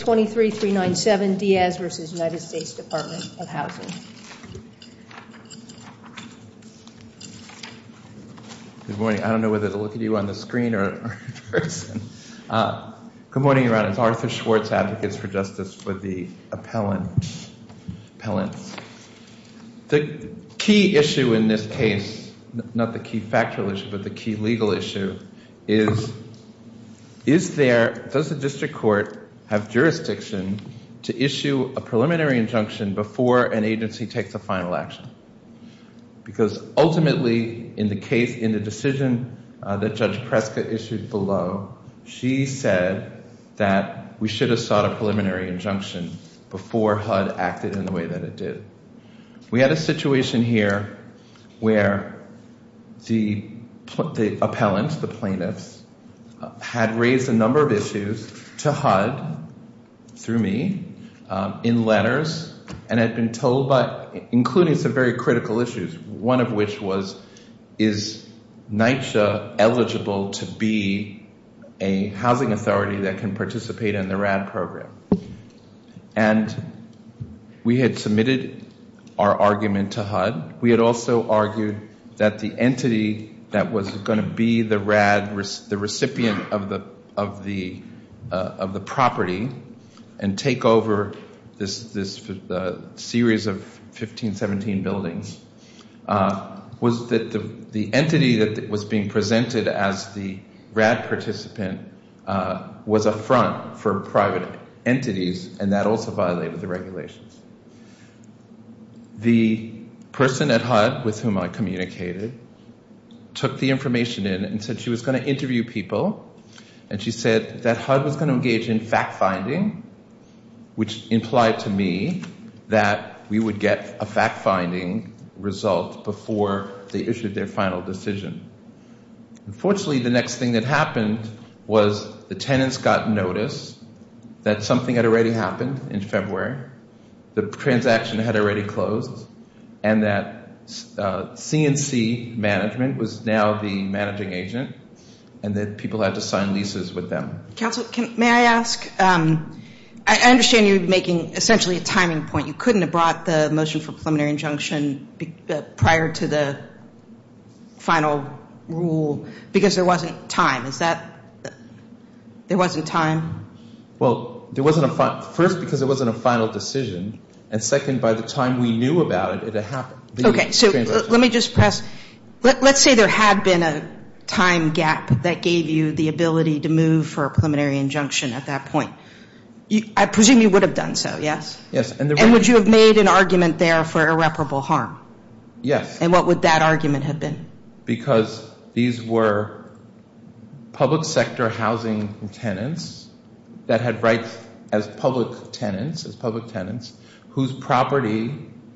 Good morning. I don't know whether to look at you on the screen or in person. Good morning, your Honor. It's Arthur Schwartz, Advocates for Justice with the Appellants. The key issue in this case, not the key factual issue, but the key legal issue is, is there, does the district court have jurisdiction over the district court? Does the district court have jurisdiction to issue a preliminary injunction before an agency takes a final action? Because ultimately, in the case, in the decision that Judge Preska issued below, she said that we should have sought a preliminary injunction before HUD acted in the way that it did. We had a situation here where the appellant, the plaintiffs, had raised a number of issues to HUD. Through me, in letters, and had been told by, including some very critical issues. One of which was, is NYCHA eligible to be a housing authority that can participate in the RAD program? And we had submitted our argument to HUD. We had also argued that the entity that was going to be the RAD, the recipient of the property, and take over this series of 15, 17 buildings, was that the entity that was being presented as the RAD participant was a front for private entities. And that also violated the regulations. The person at HUD with whom I communicated took the information in and said she was going to interview people. And she said that HUD was going to engage in fact-finding, which implied to me that we would get a fact-finding result before they issued their final decision. Unfortunately, the next thing that happened was the tenants got notice that something had already happened in February. The transaction had already closed. And that CNC management was now the managing agent. And that people had to sign leases with them. May I ask, I understand you're making essentially a timing point. You couldn't have brought the motion for preliminary injunction prior to the final rule. Because there wasn't time. There wasn't time? Well, first because it wasn't a final decision. And second, by the time we knew about it, it had happened. Okay. So let me just press. Let's say there had been a time gap that gave you the ability to move for a preliminary injunction at that point. I presume you would have done so, yes? Yes. And would you have made an argument there for irreparable harm? Yes. And what would that argument have been? Because these were public sector housing tenants that had rights as public tenants. Whose property,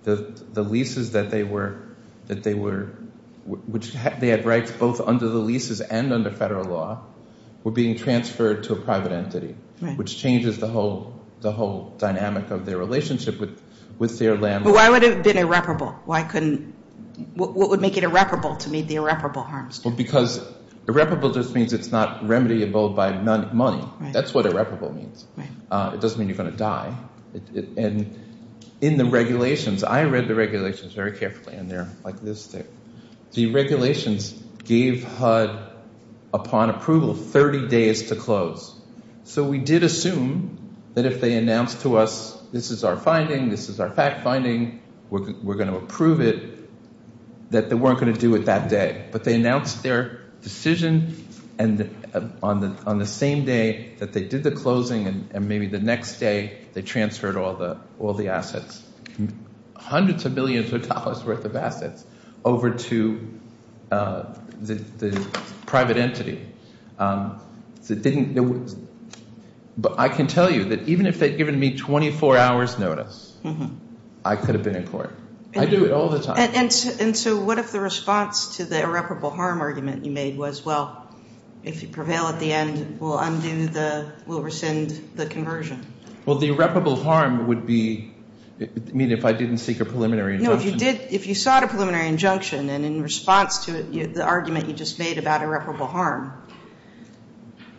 the leases that they were, which they had rights both under the leases and under federal law, were being transferred to a private entity. Which changes the whole dynamic of their relationship with their landlord. So why would it have been irreparable? Because irreparable just means it's not remediable by money. That's what irreparable means. It doesn't mean you're going to die. And in the regulations, I read the regulations very carefully. The regulations gave HUD, upon approval, 30 days to close. So we did assume that if they announced to us, this is our finding, this is our fact finding, we're going to approve it, that they weren't going to do it that day. But they announced their decision on the same day that they did the closing and maybe the next day they transferred all the assets. Hundreds of millions of dollars worth of assets over to the private entity. But I can tell you that even if they'd given me 24 hours notice, I could have been in court. I do it all the time. And so what if the response to the irreparable harm argument you made was, well, if you prevail at the end, we'll rescind the conversion? You mean if I didn't seek a preliminary injunction? No, if you sought a preliminary injunction and in response to the argument you just made about irreparable harm,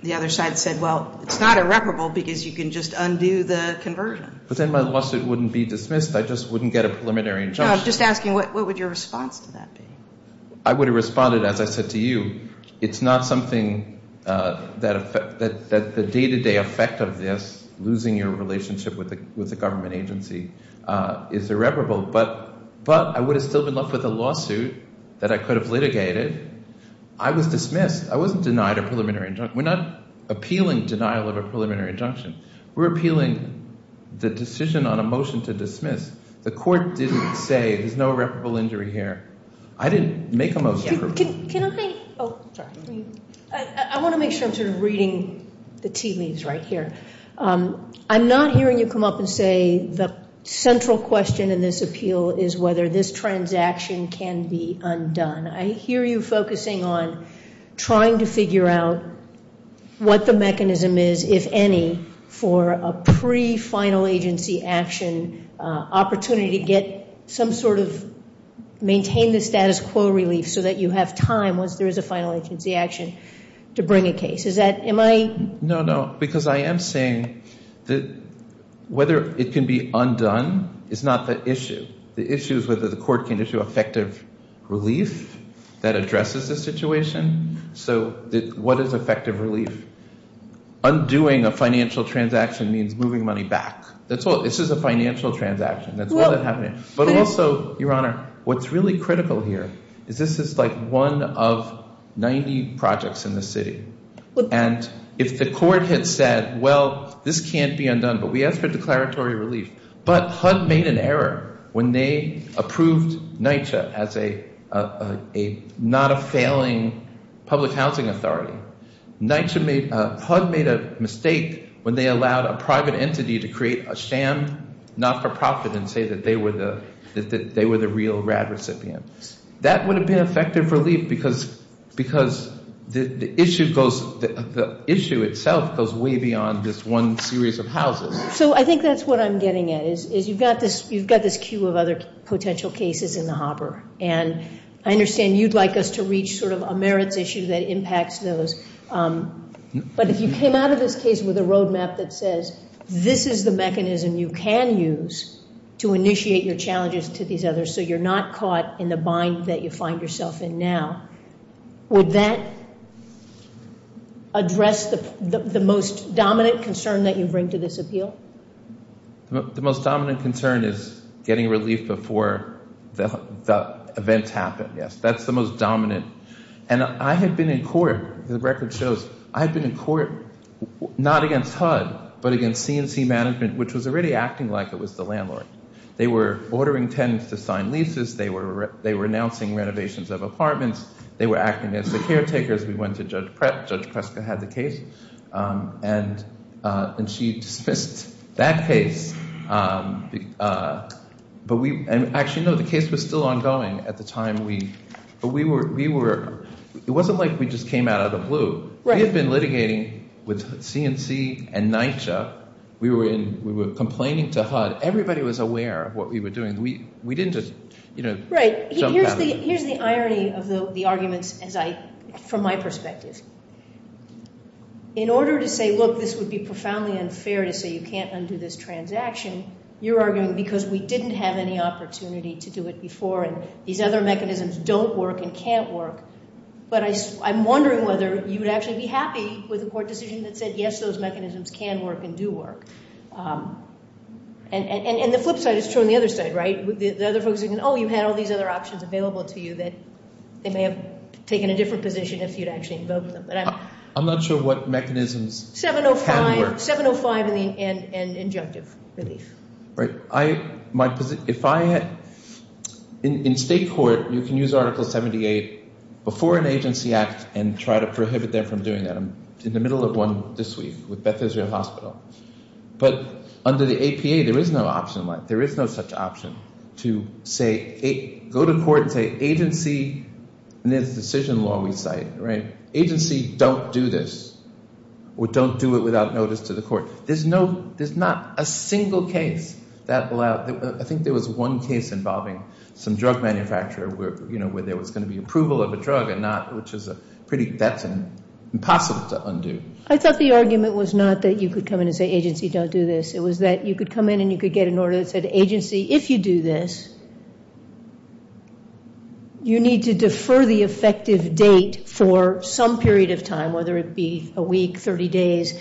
the other side said, well, it's not irreparable because you can just undo the conversion. But then my lawsuit wouldn't be dismissed. I just wouldn't get a preliminary injunction. No, I'm just asking, what would your response to that be? I would have responded, as I said to you, it's not something that the day-to-day effect of this, losing your relationship with the government agency, is irreparable. But I would have still been left with a lawsuit that I could have litigated. I was dismissed. I wasn't denied a preliminary injunction. We're not appealing denial of a preliminary injunction. We're appealing the decision on a motion to dismiss. The court didn't say there's no irreparable injury here. I want to make sure I'm sort of reading the tea leaves right here. I'm not hearing you come up and say the central question in this appeal is whether this transaction can be undone. I hear you focusing on trying to figure out what the mechanism is, if any, for a pre-final agency action opportunity to get some sort of maintain the status quo relief so that you have time once there is a final agency action to bring a case. Is that, am I... No, no, because I am saying that whether it can be undone is not the issue. The issue is whether the court can issue effective relief that addresses the situation. So what is effective relief? Undoing a financial transaction means moving money back. That's all. This is a financial transaction. That's all that's happening. But also, Your Honor, what's really critical here is this is like one of 90 projects in the city. And if the court had said, well, this can't be undone, but we ask for declaratory relief. But HUD made an error when they approved NYCHA as not a failing public housing authority. HUD made a mistake when they allowed a private entity to create a sham not-for-profit and say that they were the real RAD recipient. That would have been effective relief because the issue itself goes way beyond this one series of houses. So I think that's what I'm getting at. You've got this queue of other potential cases in the harbor. And I understand you'd like us to reach sort of a merits issue that impacts those. But if you came out of this case with a roadmap that says, this is the mechanism you can use to initiate your challenges to these others so you're not caught in the bind that you find yourself in now, would that address the most dominant concern that you bring to this appeal? The most dominant concern is getting relief before the events happen. Yes, that's the most dominant. And I have been in court. The record shows I've been in court, not against HUD, but against C&C Management, which was already acting like it was the landlord. They were ordering tenants to sign leases. They were renouncing renovations of apartments. They were acting as the caretakers. We went to Judge Preska. Judge Preska had the case, and she dismissed that case. Actually, no, the case was still ongoing at the time. It wasn't like we just came out of the blue. We had been litigating with C&C and NYCHA. We were complaining to HUD. Everybody was aware of what we were doing. Here's the irony of the arguments from my perspective. In order to say, look, this would be profoundly unfair to say you can't undo this transaction, you're arguing because we didn't have any opportunity to do it before, and these other mechanisms don't work and can't work. But I'm wondering whether you would actually be happy with a court decision that said, yes, those mechanisms can work and do work. And the flip side is true on the other side, right? You had all these other options available to you that they may have taken a different position if you'd actually invoked them. I'm not sure what mechanisms can work. In state court, you can use Article 78 before an agency act and try to prohibit them from doing that. I'm in the middle of one this week with Beth Israel Hospital. We had a case where we had a judge go to court and say agency, and it's a decision law we cite, agency, don't do this, or don't do it without notice to the court. There's not a single case that allowed that. I think there was one case involving some drug manufacturer where there was going to be approval of a drug and not, which is pretty, that's impossible to undo. I thought the argument was not that you could come in and say agency, don't do this. It was that you could come in and you could get an order that said agency, if you do this, you need to defer the effective date for some period of time, whether it be a week, 30 days,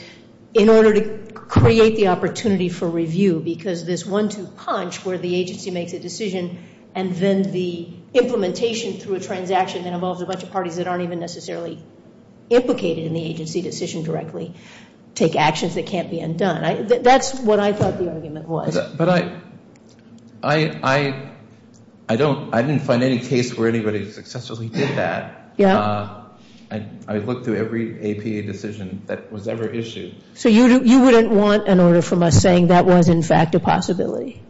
in order to create the opportunity for review. Because this one-two punch where the agency makes a decision and then the implementation through a transaction that involves a bunch of parties that aren't even necessarily implicated in the agency decision directly take actions that can't be undone. That's what I thought the argument was. But I didn't find any case where anybody successfully did that. I looked through every APA decision that was ever issued. So you wouldn't want an order from us saying that was, in fact, a possibility?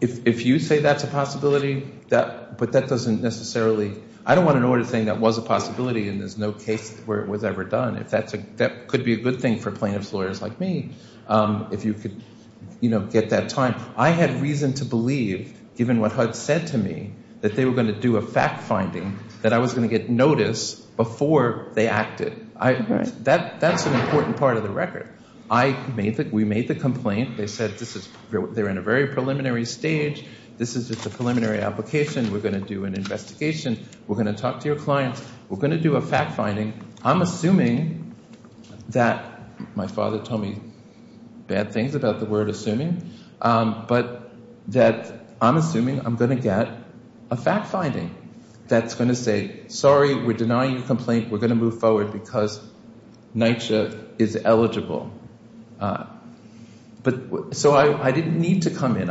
If you say that's a possibility, but that doesn't necessarily, I don't want an order saying that was a possibility and there's no case where it was ever done. That could be a good thing for plaintiff's lawyers like me, if you could get that time. I had reason to believe, given what HUD said to me, that they were going to do a fact-finding, that I was going to get notice before they acted. That's an important part of the record. We made the complaint. They said they're in a very preliminary stage. This is just a preliminary application. We're going to do an investigation. We're going to talk to your clients. We're going to do a fact-finding. I'm assuming that my father told me bad things about the word that's going to say, sorry, we're denying your complaint. We're going to move forward because NYCHA is eligible. So I didn't need to come in.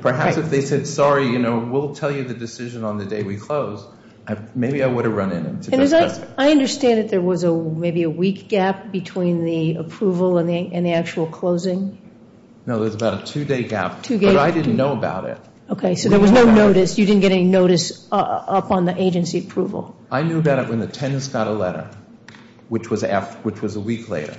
Perhaps if they said, sorry, we'll tell you the decision on the day we close, maybe I would have run in. I understand that there was maybe a week gap between the approval and the actual closing? No, there was about a two-day gap, but I didn't know about it. I knew about it when the attendance got a letter, which was a week later.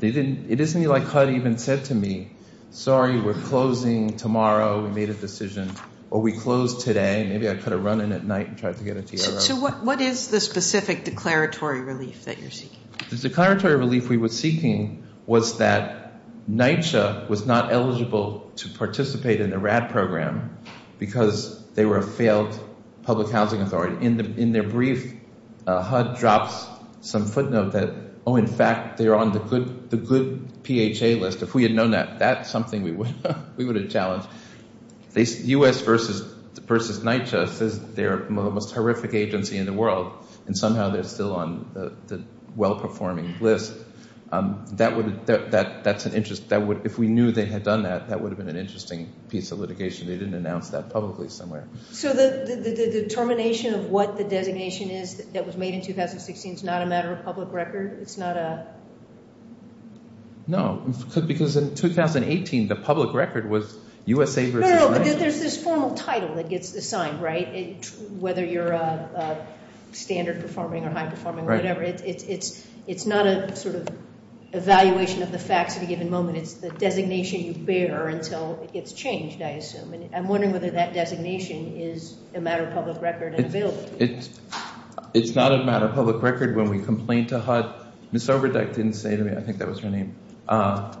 It isn't like HUD even said to me, sorry, we're closing tomorrow. We made a decision. Or we close today. Maybe I could have run in at night and tried to get a TRO. So what is the specific declaratory relief that you're seeking? The declaratory relief we were seeking was that NYCHA was not eligible to participate in the RAD program because they were a failed public housing authority. In their brief, HUD drops some footnote that, oh, in fact, they're on the good PHA list. If we had known that, that's something we would have challenged. U.S. versus NYCHA says they're the most horrific agency in the world, and somehow they're still on the well-performing list. If we knew they had done that, that would have been an interesting piece of litigation. They didn't announce that publicly somewhere. So the determination of what the designation is that was made in 2016 is not a matter of public record? No, because in 2018, the public record was USA versus NYCHA. No, no, but there's this formal title that gets assigned, right? Whether you're a standard performing or high performing or whatever, it's not a sort of evaluation of the facts at a given moment. It's the designation you bear until it gets changed, I assume. I'm wondering whether that designation is a matter of public record in the bill. It's not a matter of public record when we complain to HUD. Ms. Overdyke didn't say to me. I think that was her name. Oh,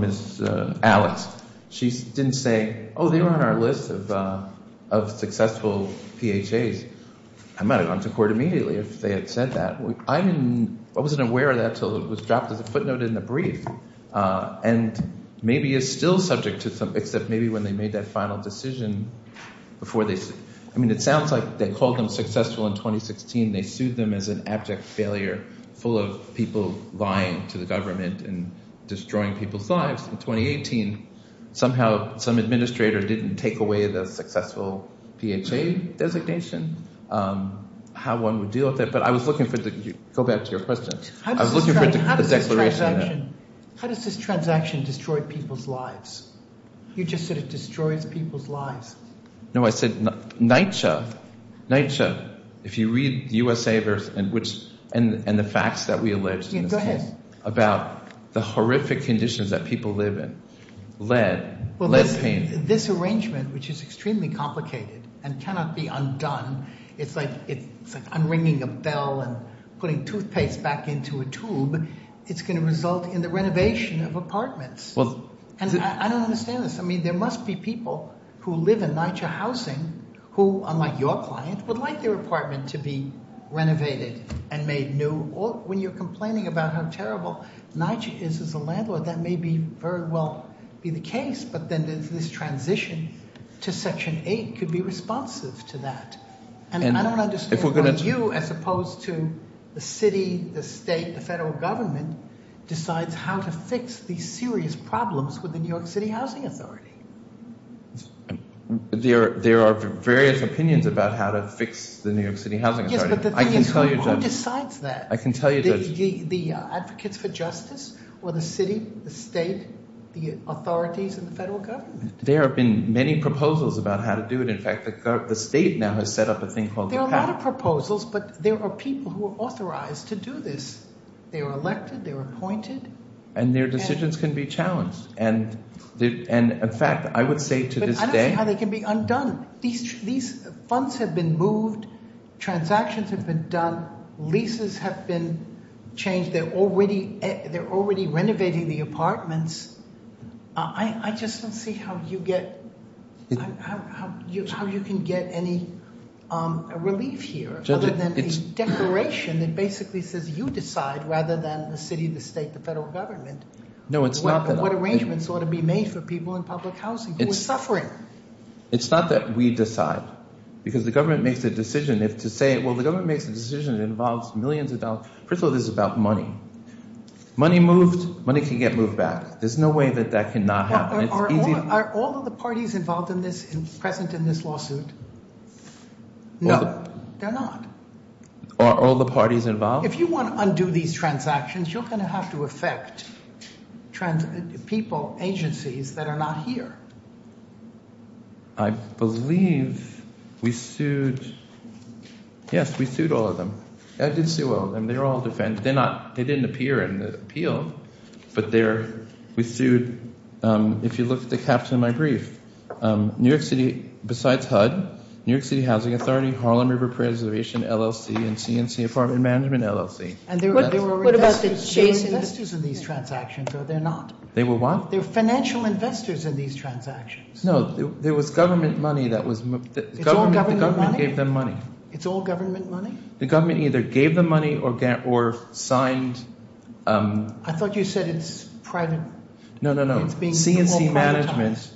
Ms. Alex. She didn't say, oh, they were on our list of successful PHAs. I might have gone to court immediately if they had said that. I wasn't aware of that until it was dropped as a footnote in the brief. And maybe it's still subject to some, except maybe when they made that final decision. I mean, it sounds like they called them successful in 2016. They sued them as an abject failure full of people lying to the government and destroying people's lives. In 2018, somehow some administrator didn't take away the successful PHA designation. How one would deal with it. But I was looking for the, go back to your question. How does this transaction destroy people's lives? You just said it destroys people's lives. No, I said NYCHA. NYCHA. If you read USAverse and the facts that we allege about the horrific conditions that people live in. Lead, lead paint. This arrangement, which is extremely complicated and cannot be undone. It's like unringing a bell and putting toothpaste back into a tube. It's going to result in the renovation of apartments. And I don't understand this. I mean, there must be people who live in NYCHA housing who, unlike your client, would like their apartment to be renovated and made new. Or when you're complaining about how terrible NYCHA is as a landlord, that may be very well be the case. But then this transition to Section 8 could be responsive to that. And I don't understand why you, as opposed to the city, the state, the federal government, decides how to fix these serious problems with the New York City Housing Authority. There are various opinions about how to fix the New York City Housing Authority. Yes, but the thing is, who decides that? I can tell you, Judge. The advocates for justice? Or the city, the state, the authorities, and the federal government? There have been many proposals about how to do it. In fact, the state now has set up a thing called the PAC. There are a lot of proposals, but there are people who are authorized to do this. They're elected. They're appointed. And their decisions can be challenged. And, in fact, I would say to this day— But I don't see how they can be undone. These funds have been moved. Transactions have been done. Leases have been changed. They're already renovating the apartments. I just don't see how you can get any relief here other than a declaration that basically says, you decide, rather than the city, the state, the federal government, what arrangements ought to be made for people in public housing who are suffering. It's not that we decide. Because the government makes a decision. Well, the government makes a decision that involves millions of dollars. First of all, this is about money. Money moved. Money can get moved back. There's no way that that cannot happen. Are all of the parties involved present in this lawsuit? No, they're not. Are all the parties involved? If you want to undo these transactions, you're going to have to affect people, agencies that are not here. I believe we sued— Yes, we sued all of them. I did sue all of them. They're all defendants. They didn't appear in the appeal, but they're—we sued— If you look at the caps in my brief, New York City, besides HUD, New York City Housing Authority, Harlem River Preservation, LLC, and C&C Apartment Management, LLC. What about the shareholders? They're investors in these transactions, are they not? They were what? They're financial investors in these transactions. No, there was government money that was— It's all government money? The government gave them money. It's all government money? The government either gave them money or signed— I thought you said it's private. No, no, no. C&C Management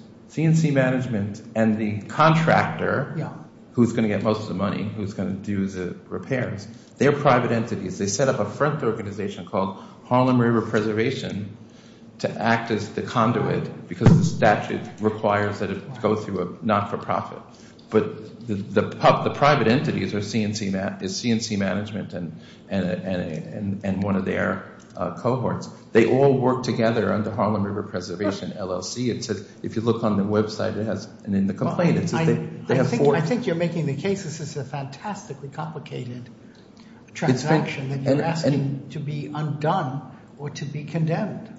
and the contractor, who's going to get most of the money, who's going to do the repairs, they're private entities. They set up a front organization called Harlem River Preservation to act as the conduit because the statute requires that it go through a not-for-profit. But the private entities are C&C Management and one of their cohorts. They all work together under Harlem River Preservation, LLC. If you look on the website, it has—and in the complaint, it says they have four— I think you're making the case this is a fantastically complicated transaction that you're asking to be undone or to be condemned.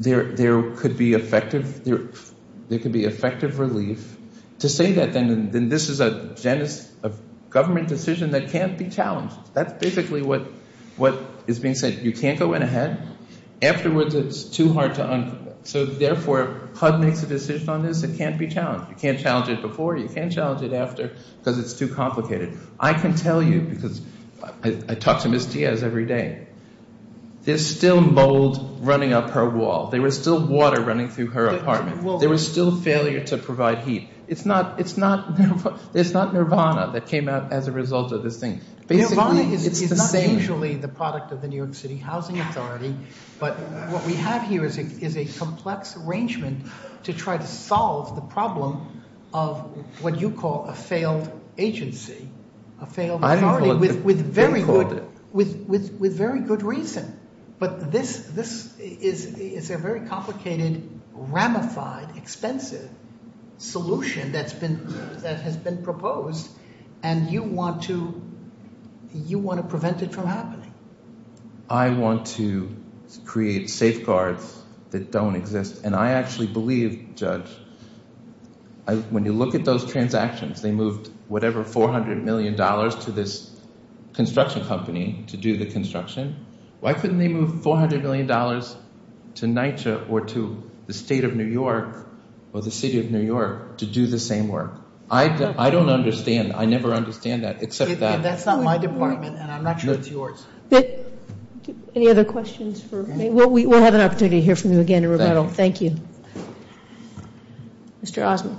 There could be effective relief. To say that, then, this is a government decision that can't be challenged. That's basically what is being said. You can't go in ahead. Afterwards, it's too hard to— So, therefore, HUD makes a decision on this that can't be challenged. You can't challenge it before. You can't challenge it after because it's too complicated. I can tell you because I talk to Ms. Diaz every day. There's still mold running up her wall. There was still water running through her apartment. There was still failure to provide heat. It's not Nirvana that came out as a result of this thing. Nirvana is not usually the product of the New York City Housing Authority, but what we have here is a complex arrangement to try to solve the problem of what you call a failed agency, a failed authority with very good— with very good reason, but this is a very complicated, ramified, expensive solution that has been proposed, and you want to prevent it from happening. I want to create safeguards that don't exist, and I actually believe, Judge, when you look at those transactions, they moved whatever $400 million to this construction company to do the construction. Why couldn't they move $400 million to NYCHA or to the State of New York or the City of New York to do the same work? I don't understand. I never understand that except that. That's not my department, and I'm not sure it's yours. Any other questions? We'll have an opportunity to hear from you again in rebuttal. Thank you. Mr. Osmond.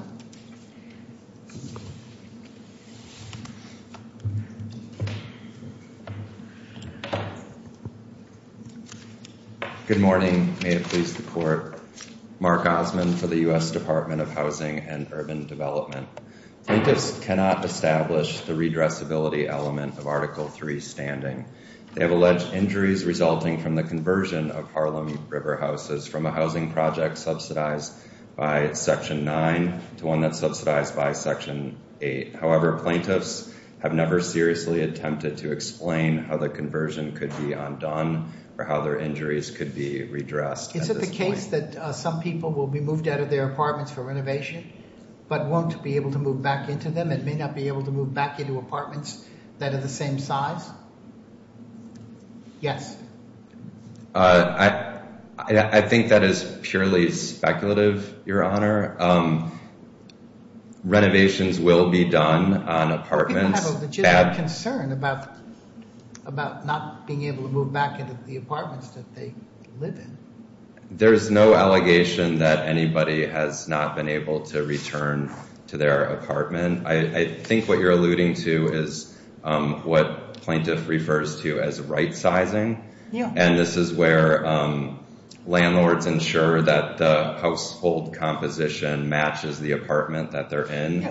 Good morning. May it please the Court. Mark Osmond for the U.S. Department of Housing and Urban Development. Plaintiffs cannot establish the redressability element of Article III standing. They have alleged injuries resulting from the conversion of Harlem River houses from a housing project subsidized by Section 9 to one that's subsidized by Section 8. However, plaintiffs have never seriously attempted to explain how the conversion could be undone or how their injuries could be redressed. Is it the case that some people will be moved out of their apartments for renovation but won't be able to move back into them and may not be able to move back into apartments that are the same size? Yes. I think that is purely speculative, Your Honor. Renovations will be done on apartments. People have a legitimate concern about not being able to move back into the apartments that they live in. There's no allegation that anybody has not been able to return to their apartment. I think what you're alluding to is what plaintiff refers to as right-sizing, and this is where landlords ensure that the household composition matches the apartment that they're in.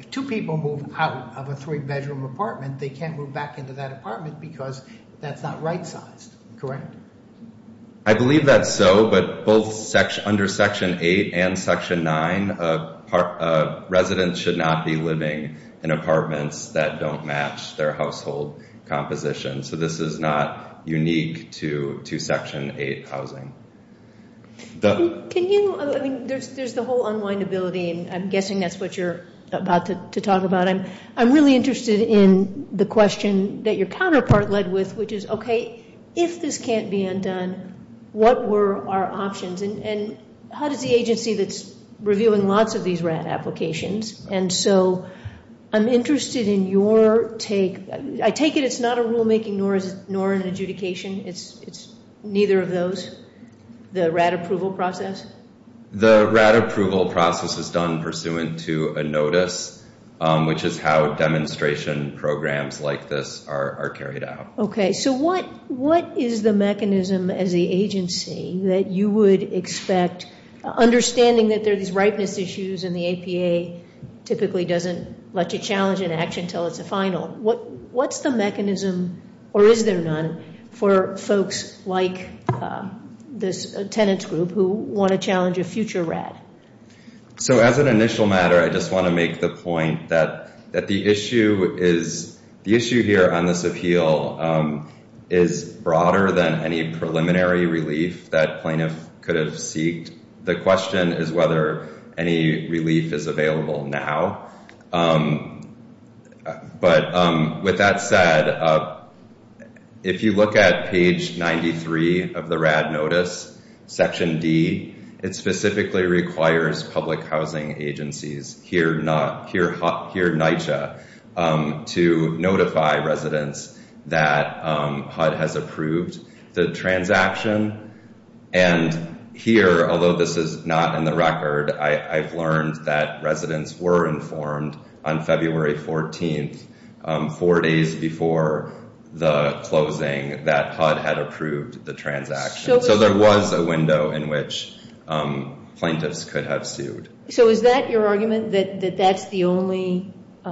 If two people move out of a three-bedroom apartment, they can't move back into that apartment because that's not right-sized, correct? I believe that's so, but both under Section 8 and Section 9, residents should not be living in apartments that don't match their household composition. So this is not unique to Section 8 housing. Can you, I mean, there's the whole unwindability, and I'm guessing that's what you're about to talk about. I'm really interested in the question that your counterpart led with, which is, okay, if this can't be undone, what were our options? And how does the agency that's reviewing lots of these RAD applications, and so I'm interested in your take. I take it it's not a rulemaking nor an adjudication? It's neither of those? The RAD approval process? The RAD approval process is done pursuant to a notice, which is how demonstration programs like this are carried out. Okay, so what is the mechanism as the agency that you would expect, understanding that there are these ripeness issues and the APA typically doesn't let you challenge an action until it's a final. What's the mechanism, or is there none, for folks like this tenants group who want to challenge a future RAD? So as an initial matter, I just want to make the point that the issue is, the issue here on this appeal is broader than any preliminary relief that plaintiff could have seeked. The question is whether any relief is available now. But with that said, if you look at page 93 of the RAD notice, section D, it specifically requires public housing agencies, here NYCHA, to notify residents that HUD has approved the transaction. And here, although this is not in the record, I've learned that residents were informed on February 14th, four days before the closing, that HUD had approved the transaction. So there was a window in which plaintiffs could have sued. So is that your argument, that that's the only –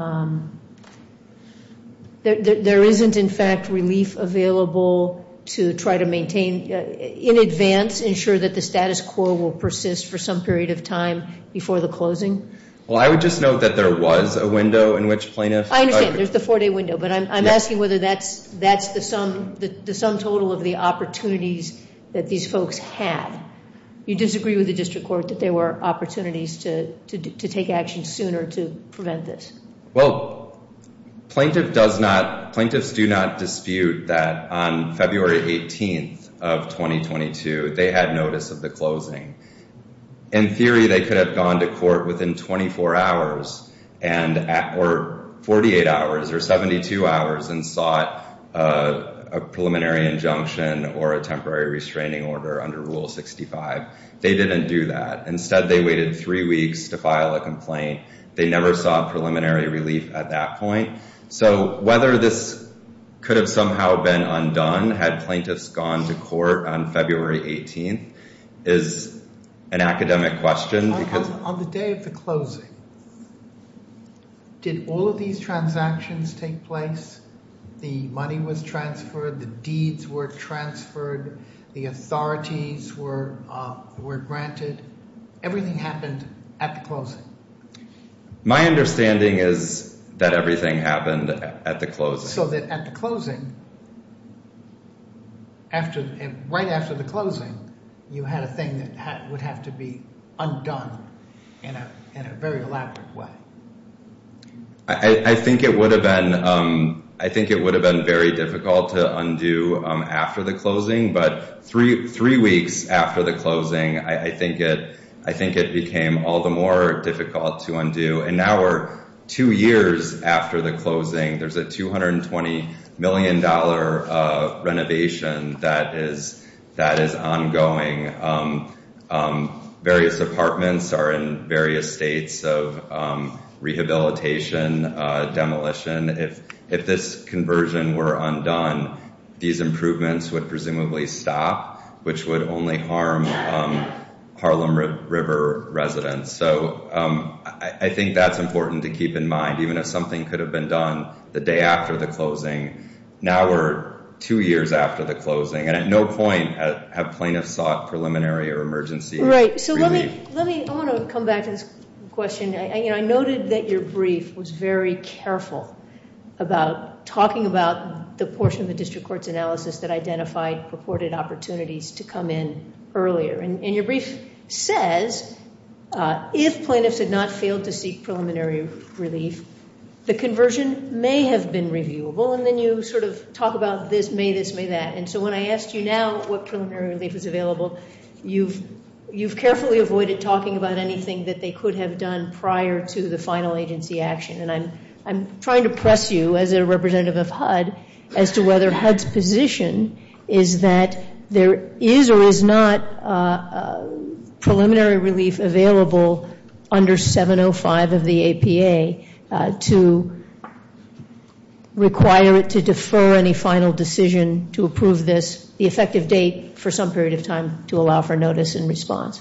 there isn't, in fact, relief available to try to maintain in advance, ensure that the status quo will persist for some period of time before the closing? Well, I would just note that there was a window in which plaintiffs – I understand. There's the four-day window. But I'm asking whether that's the sum total of the opportunities that these folks had. You disagree with the district court that there were opportunities to take action sooner to prevent this? Well, plaintiffs do not dispute that on February 18th of 2022, they had notice of the closing. In theory, they could have gone to court within 24 hours, or 48 hours, or 72 hours, and sought a preliminary injunction or a temporary restraining order under Rule 65. They didn't do that. Instead, they waited three weeks to file a complaint. They never sought preliminary relief at that point. So whether this could have somehow been undone had plaintiffs gone to court on February 18th is an academic question. On the day of the closing, did all of these transactions take place? The money was transferred. The deeds were transferred. The authorities were granted. Everything happened at the closing. My understanding is that everything happened at the closing. So that at the closing, right after the closing, you had a thing that would have to be undone in a very elaborate way. I think it would have been very difficult to undo after the closing. But three weeks after the closing, I think it became all the more difficult to undo. And now we're two years after the closing. There's a $220 million renovation that is ongoing. Various apartments are in various states of rehabilitation, demolition. If this conversion were undone, these improvements would presumably stop, which would only harm Harlem River residents. So I think that's important to keep in mind. Even if something could have been done the day after the closing, now we're two years after the closing. And at no point have plaintiffs sought preliminary or emergency relief. Right. I want to come back to this question. I noted that your brief was very careful about talking about the portion of the district court's analysis that identified purported opportunities to come in earlier. And your brief says if plaintiffs had not failed to seek preliminary relief, the conversion may have been reviewable. And then you sort of talk about this, may this, may that. And so when I asked you now what preliminary relief is available, you've carefully avoided talking about anything that they could have done prior to the final agency action. And I'm trying to press you as a representative of HUD as to whether HUD's position is that there is or is not preliminary relief available under 705 of the APA to require it to defer any final decision to approve this, the effective date for some period of time to allow for notice and response.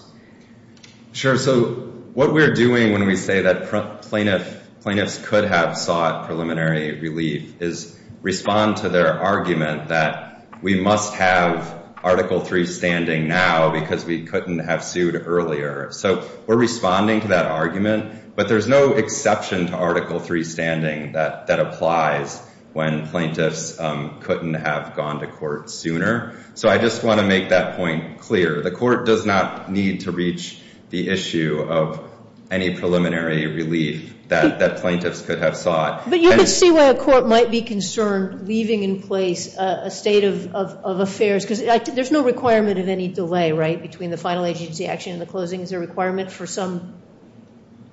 Sure. So what we're doing when we say that plaintiffs could have sought preliminary relief is respond to their argument that we must have Article III standing now because we couldn't have sued earlier. So we're responding to that argument, but there's no exception to Article III standing that applies when plaintiffs couldn't have gone to court sooner. So I just want to make that point clear. The court does not need to reach the issue of any preliminary relief that plaintiffs could have sought. But you could see why a court might be concerned leaving in place a state of affairs because there's no requirement of any delay, right, between the final agency action and the closing. Is there a requirement for some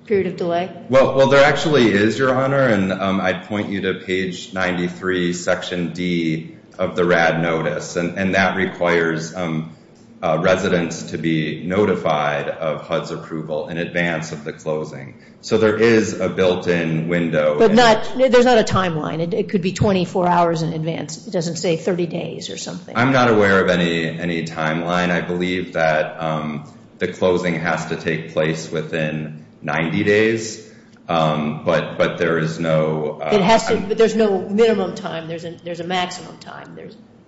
period of delay? Well, there actually is, Your Honor, and I'd point you to page 93, Section D of the RAD Notice, and that requires residents to be notified of HUD's approval in advance of the closing. So there is a built-in window. But there's not a timeline. It could be 24 hours in advance. It doesn't say 30 days or something. I'm not aware of any timeline. I believe that the closing has to take place within 90 days, but there is no minimum time. There's a maximum time.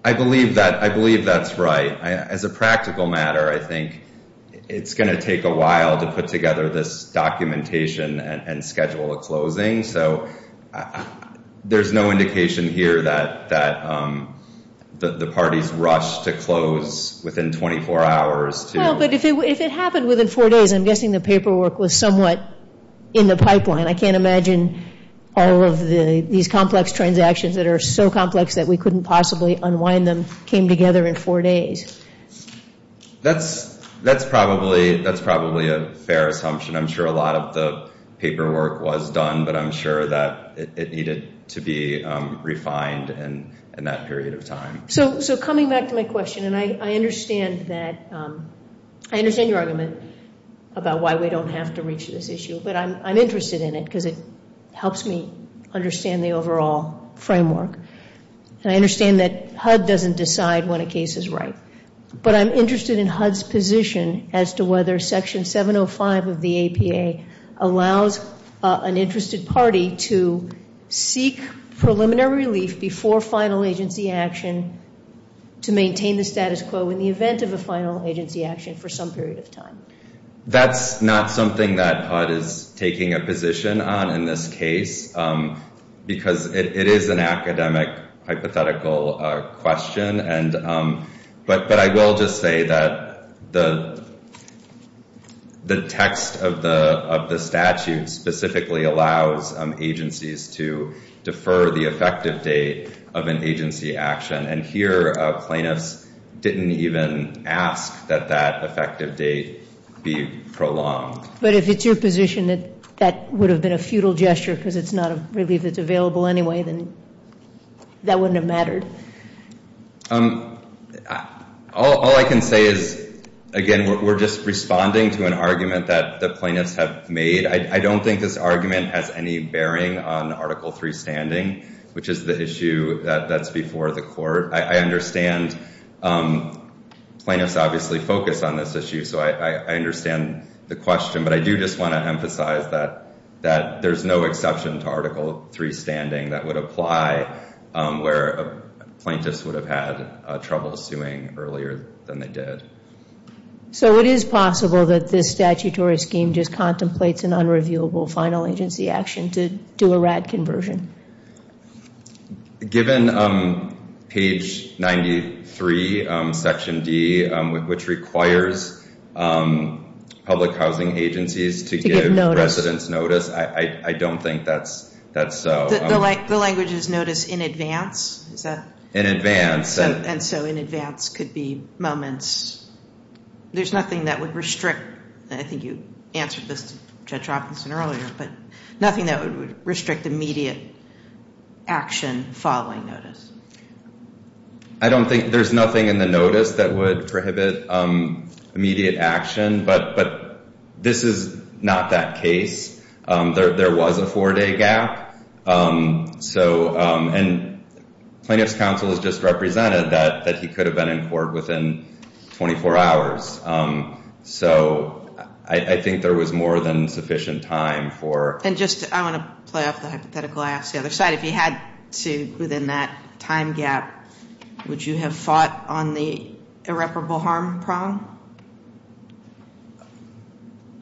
I believe that's right. As a practical matter, I think it's going to take a while to put together this documentation and schedule a closing, so there's no indication here that the parties rushed to close within 24 hours. Well, but if it happened within four days, I'm guessing the paperwork was somewhat in the pipeline. I can't imagine all of these complex transactions that are so complex that we couldn't possibly unwind them came together in four days. That's probably a fair assumption. I'm sure a lot of the paperwork was done, but I'm sure that it needed to be refined in that period of time. So coming back to my question, and I understand your argument about why we don't have to reach this issue, but I'm interested in it because it helps me understand the overall framework. I understand that HUD doesn't decide when a case is right, but I'm interested in HUD's position as to whether Section 705 of the APA allows an interested party to seek preliminary relief before final agency action to maintain the status quo in the event of a final agency action for some period of time. That's not something that HUD is taking a position on in this case because it is an academic hypothetical question, but I will just say that the text of the statute specifically allows agencies to defer the effective date of an agency action, and here plaintiffs didn't even ask that that effective date be prolonged. But if it's your position that that would have been a futile gesture because it's not a relief that's available anyway, then that wouldn't have mattered. All I can say is, again, we're just responding to an argument that the plaintiffs have made. I don't think this argument has any bearing on Article III standing, which is the issue that's before the court. I understand plaintiffs obviously focus on this issue, so I understand the question, but I do just want to emphasize that there's no exception to Article III standing that would apply where a plaintiff would have had trouble suing earlier than they did. So it is possible that this statutory scheme just contemplates an unreviewable final agency action to do a RAD conversion? Given page 93, Section D, which requires public housing agencies to give residents notice, I don't think that's so. The language is notice in advance? In advance. And so in advance could be moments. There's nothing that would restrict. I think you answered this to Judge Hopkinson earlier, but nothing that would restrict immediate action following notice. I don't think there's nothing in the notice that would prohibit immediate action, but this is not that case. There was a four-day gap, and plaintiffs' counsel has just represented that he could have been in court within 24 hours. So I think there was more than sufficient time for... And just, I want to play off the hypothetical I asked the other side. If you had to, within that time gap, would you have fought on the irreparable harm prong?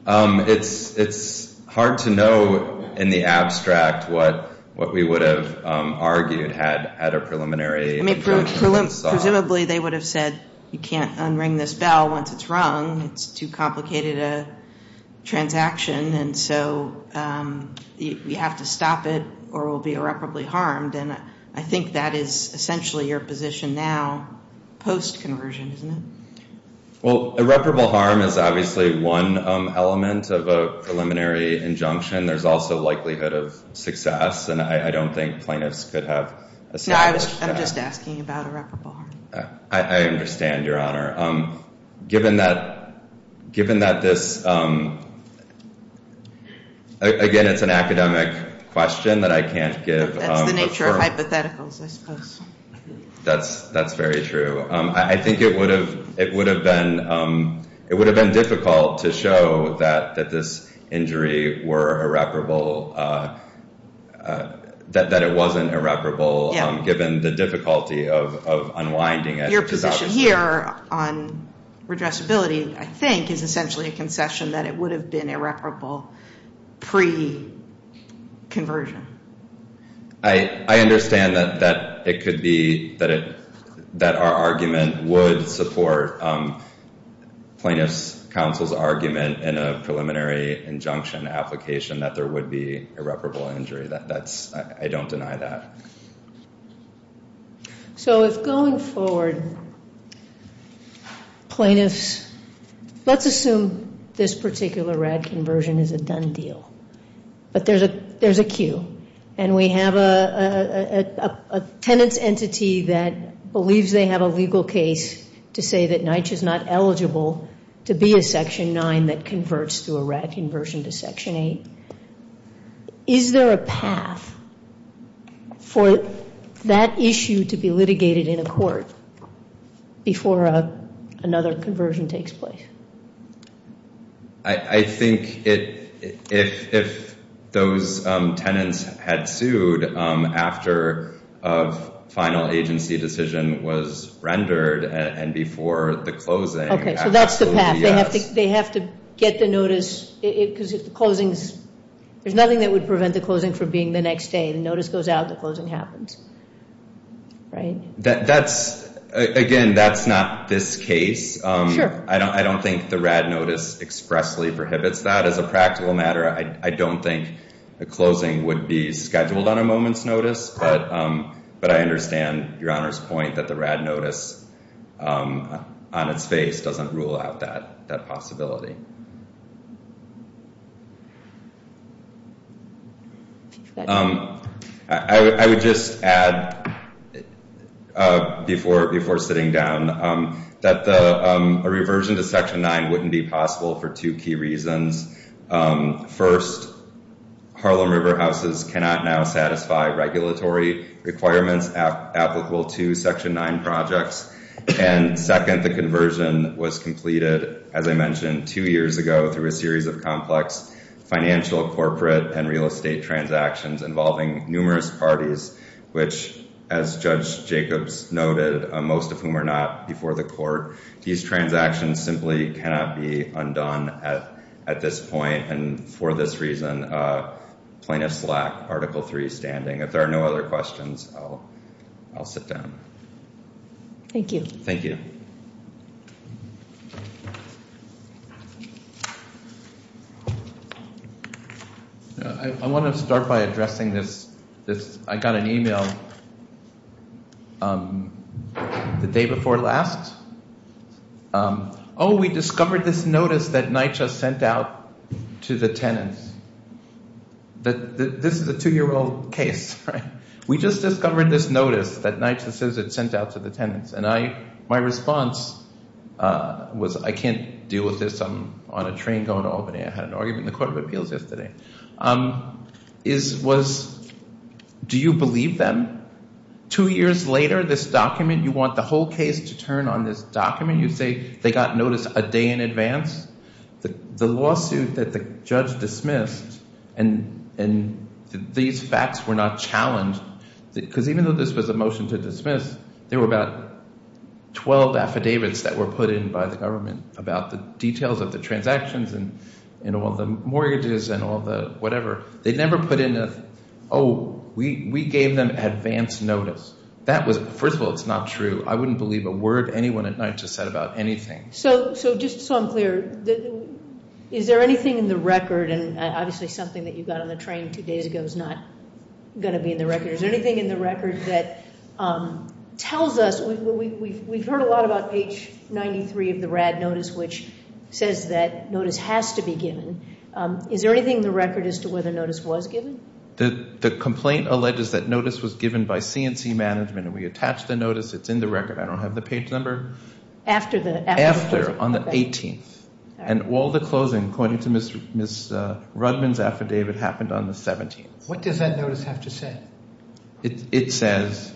It's hard to know in the abstract what we would have argued had a preliminary... Presumably they would have said, you can't unring this bell once it's rung. It's too complicated a transaction, and so you have to stop it or we'll be irreparably harmed. And I think that is essentially your position now, post-conversion, isn't it? Well, irreparable harm is obviously one element of a preliminary injunction. There's also likelihood of success, and I don't think plaintiffs could have... No, I'm just asking about irreparable harm. I understand, Your Honor. Given that this... Again, it's an academic question that I can't give a firm... That's the nature of hypotheticals, I suppose. That's very true. I think it would have been difficult to show that this injury were irreparable, that it wasn't irreparable, given the difficulty of unwinding it. Your position here on redressability, I think, is essentially a concession that it would have been irreparable pre-conversion. I understand that it could be, that our argument would support plaintiffs' counsel's argument in a preliminary injunction application that there would be irreparable injury. I don't deny that. So if going forward, plaintiffs... Let's assume this particular RAD conversion is a done deal, but there's a cue, and we have a tenant's entity that believes they have a legal case to say that NYCHA is not eligible to be a Section 9 that converts to a RAD conversion to Section 8. Is there a path for that issue to be litigated in a court before another conversion takes place? I think if those tenants had sued after a final agency decision was rendered and before the closing... Okay, so that's the path. They have to get the notice, because if the closings... There's nothing that would prevent the closing from being the next day. The notice goes out, the closing happens. Again, that's not this case. I don't think the RAD notice expressly prohibits that as a practical matter. I don't think a closing would be scheduled on a moment's notice, but I understand Your Honor's point that the RAD notice on its face doesn't rule out that possibility. Thank you. I would just add before sitting down that a reversion to Section 9 wouldn't be possible for two key reasons. First, Harlem River houses cannot now satisfy regulatory requirements applicable to Section 9 projects, and second, the conversion was completed, as I mentioned, two years ago through a series of complex financial, corporate, and real estate transactions involving numerous parties, which, as Judge Jacobs noted, most of whom are not before the court, these transactions simply cannot be undone at this point, and for this reason plaintiffs lack Article 3 standing. If there are no other questions, I'll sit down. Thank you. Thank you. I want to start by addressing this. I got an email the day before last. Oh, we discovered this notice that NYCHA sent out to the tenants. This is a two-year-old case. We just discovered this notice that NYCHA says it sent out to the tenants, and my response was, I can't deal with this. I'm on a train going to Albany. I had an argument in the Court of Appeals yesterday. It was, do you believe them? Two years later, this document, you want the whole case to turn on this document. You say they got notice a day in advance. The lawsuit that the judge dismissed, and these facts were not challenged, because even though this was a motion to dismiss, there were about 12 affidavits that were put in by the government about the details of the transactions and all the mortgages and all the whatever. They never put in a, oh, we gave them advance notice. First of all, it's not true. I wouldn't believe a word anyone at NYCHA said about anything. So just so I'm clear, is there anything in the record, and obviously something that you got on the train two days ago is not going to be in the record. Is there anything in the record that tells us, we've heard a lot about page 93 of the RAD notice, which says that notice has to be given. Is there anything in the record as to whether notice was given? The complaint alleges that notice was given by CNC management, and we attached the notice. It's in the record. I don't have the page number. After the closing. After, on the 18th. And all the closing, according to Ms. Rudman's affidavit, happened on the 17th. What does that notice have to say? It says,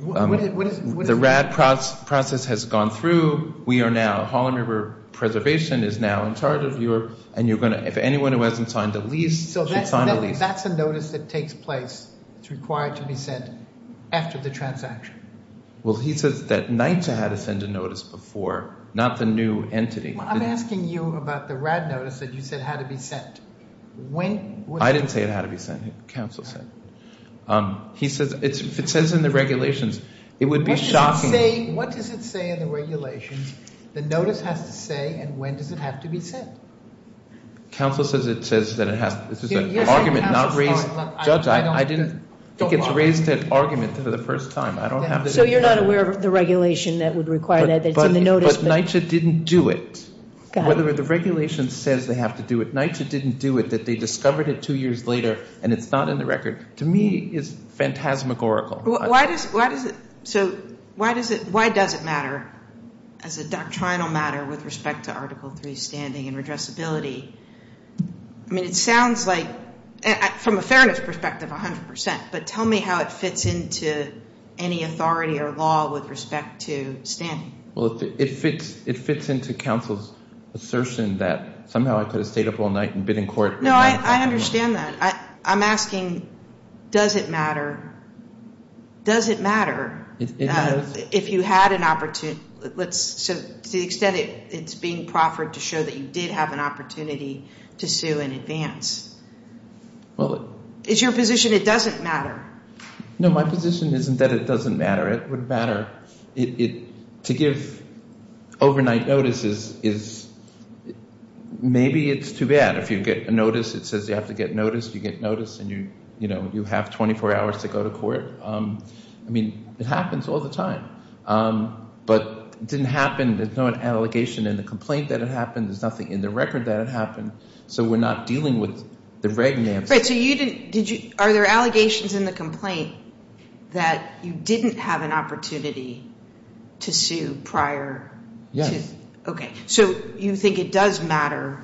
the RAD process has gone through. We are now, Harlem River Preservation is now in charge of your, and if anyone who hasn't signed the lease should sign the lease. So that's a notice that takes place. It's required to be sent after the transaction. Well, he says that NYCTA had to send a notice before, not the new entity. I'm asking you about the RAD notice that you said had to be sent. I didn't say it had to be sent. Counsel said. He says, if it says in the regulations, it would be shocking. What does it say in the regulations? The notice has to say, and when does it have to be sent? Counsel says it says that it has, this is an argument, not raised. I said argument for the first time. So you're not aware of the regulation that would require that it's in the notice. But NYCTA didn't do it. Whether the regulation says they have to do it, NYCTA didn't do it that they discovered it two years later and it's not in the record, to me is phantasmagorical. So why does it matter as a doctrinal matter with respect to Article 3 standing and redressability? I mean, it sounds like, from a fairness perspective, 100%, but tell me how it fits into any authority or law with respect to standing. Well, it fits into counsel's assertion that somehow I could have stayed up all night and been in court. No, I understand that. I'm asking, does it matter? Does it matter if you had an opportunity? To the extent it's being proffered to show that you did have an opportunity to sue in advance. It's your position it doesn't matter. No, my position isn't that it doesn't matter. It would matter. To give overnight notices, maybe it's too bad. If you get a notice that says you have to get noticed, you get noticed and you have 24 hours to go to court. I mean, it happens all the time. But it didn't happen, there's no allegation in the complaint that it happened. There's nothing in the record that it happened. So we're not dealing with the red maps. Are there allegations in the complaint that you didn't have an opportunity to sue prior? Yes. Okay. So you think it does matter?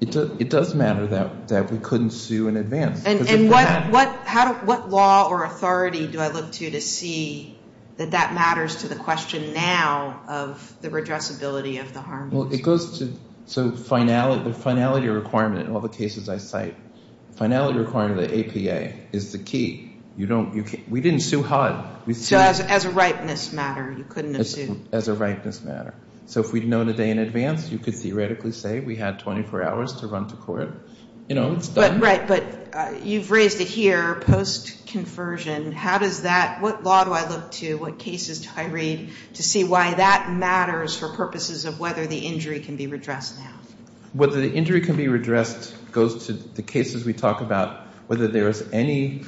It does matter that we couldn't sue in advance. And what law or authority do I look to to see that that matters to the question now of the redressability of the harm? Well, it goes to the finality requirement in all the cases I cite. Finality requirement of the APA is the key. We didn't sue HUD. As a ripeness matter, you couldn't have sued. As a ripeness matter. So if we'd known a day in advance, you could theoretically say we had 24 hours to run to court. You know, it's done. Right, but you've raised it here, post-conversion. How does that, what law do I look to, what cases do I read to see why that matters for purposes of whether the injury can be redressed now? Whether the injury can be redressed goes to the cases we talk about, whether there is any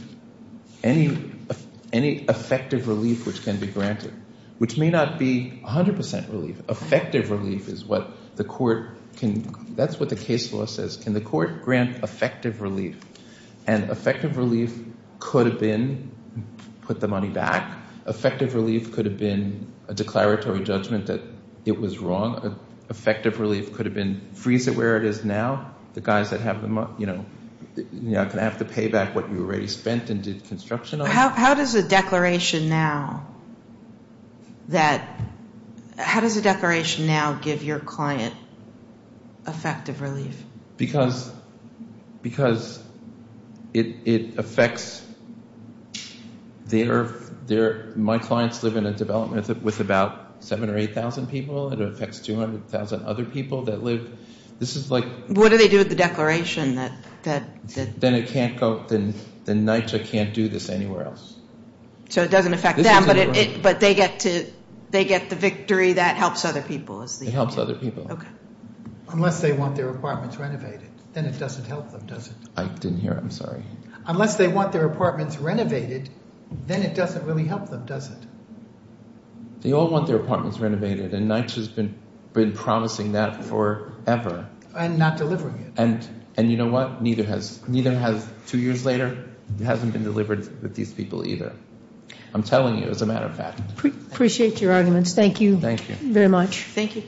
effective relief which can be granted. Which may not be 100% relief. Effective relief is what the court can, that's what the case law says. Can the court grant effective relief? And effective relief could have been put the money back. Effective relief could have been a declaratory judgment that it was wrong. Effective relief could have been freeze it where it is now. The guys that have the money, you know, you're not going to have to pay back what you already spent and did construction on it. How does a declaration now that, how does a declaration now give your client effective relief? Because it affects their, my clients live in a development with about 7 or 8,000 people. It affects 200,000 other people that live. This is like. What do they do with the declaration that. Then it can't go, then NYCHA can't do this anywhere else. So it doesn't affect them, but they get the victory that helps other people. It helps other people. Okay. Unless they want their apartments renovated, then it doesn't help them, does it? I didn't hear. I'm sorry. Unless they want their apartments renovated, then it doesn't really help them, does it? They all want their apartments renovated, and NYCHA's been promising that forever. And not delivering it. And you know what? Neither has, two years later, it hasn't been delivered with these people either. I'm telling you, as a matter of fact. Appreciate your arguments. Thank you. Thank you. Very much. Thank you.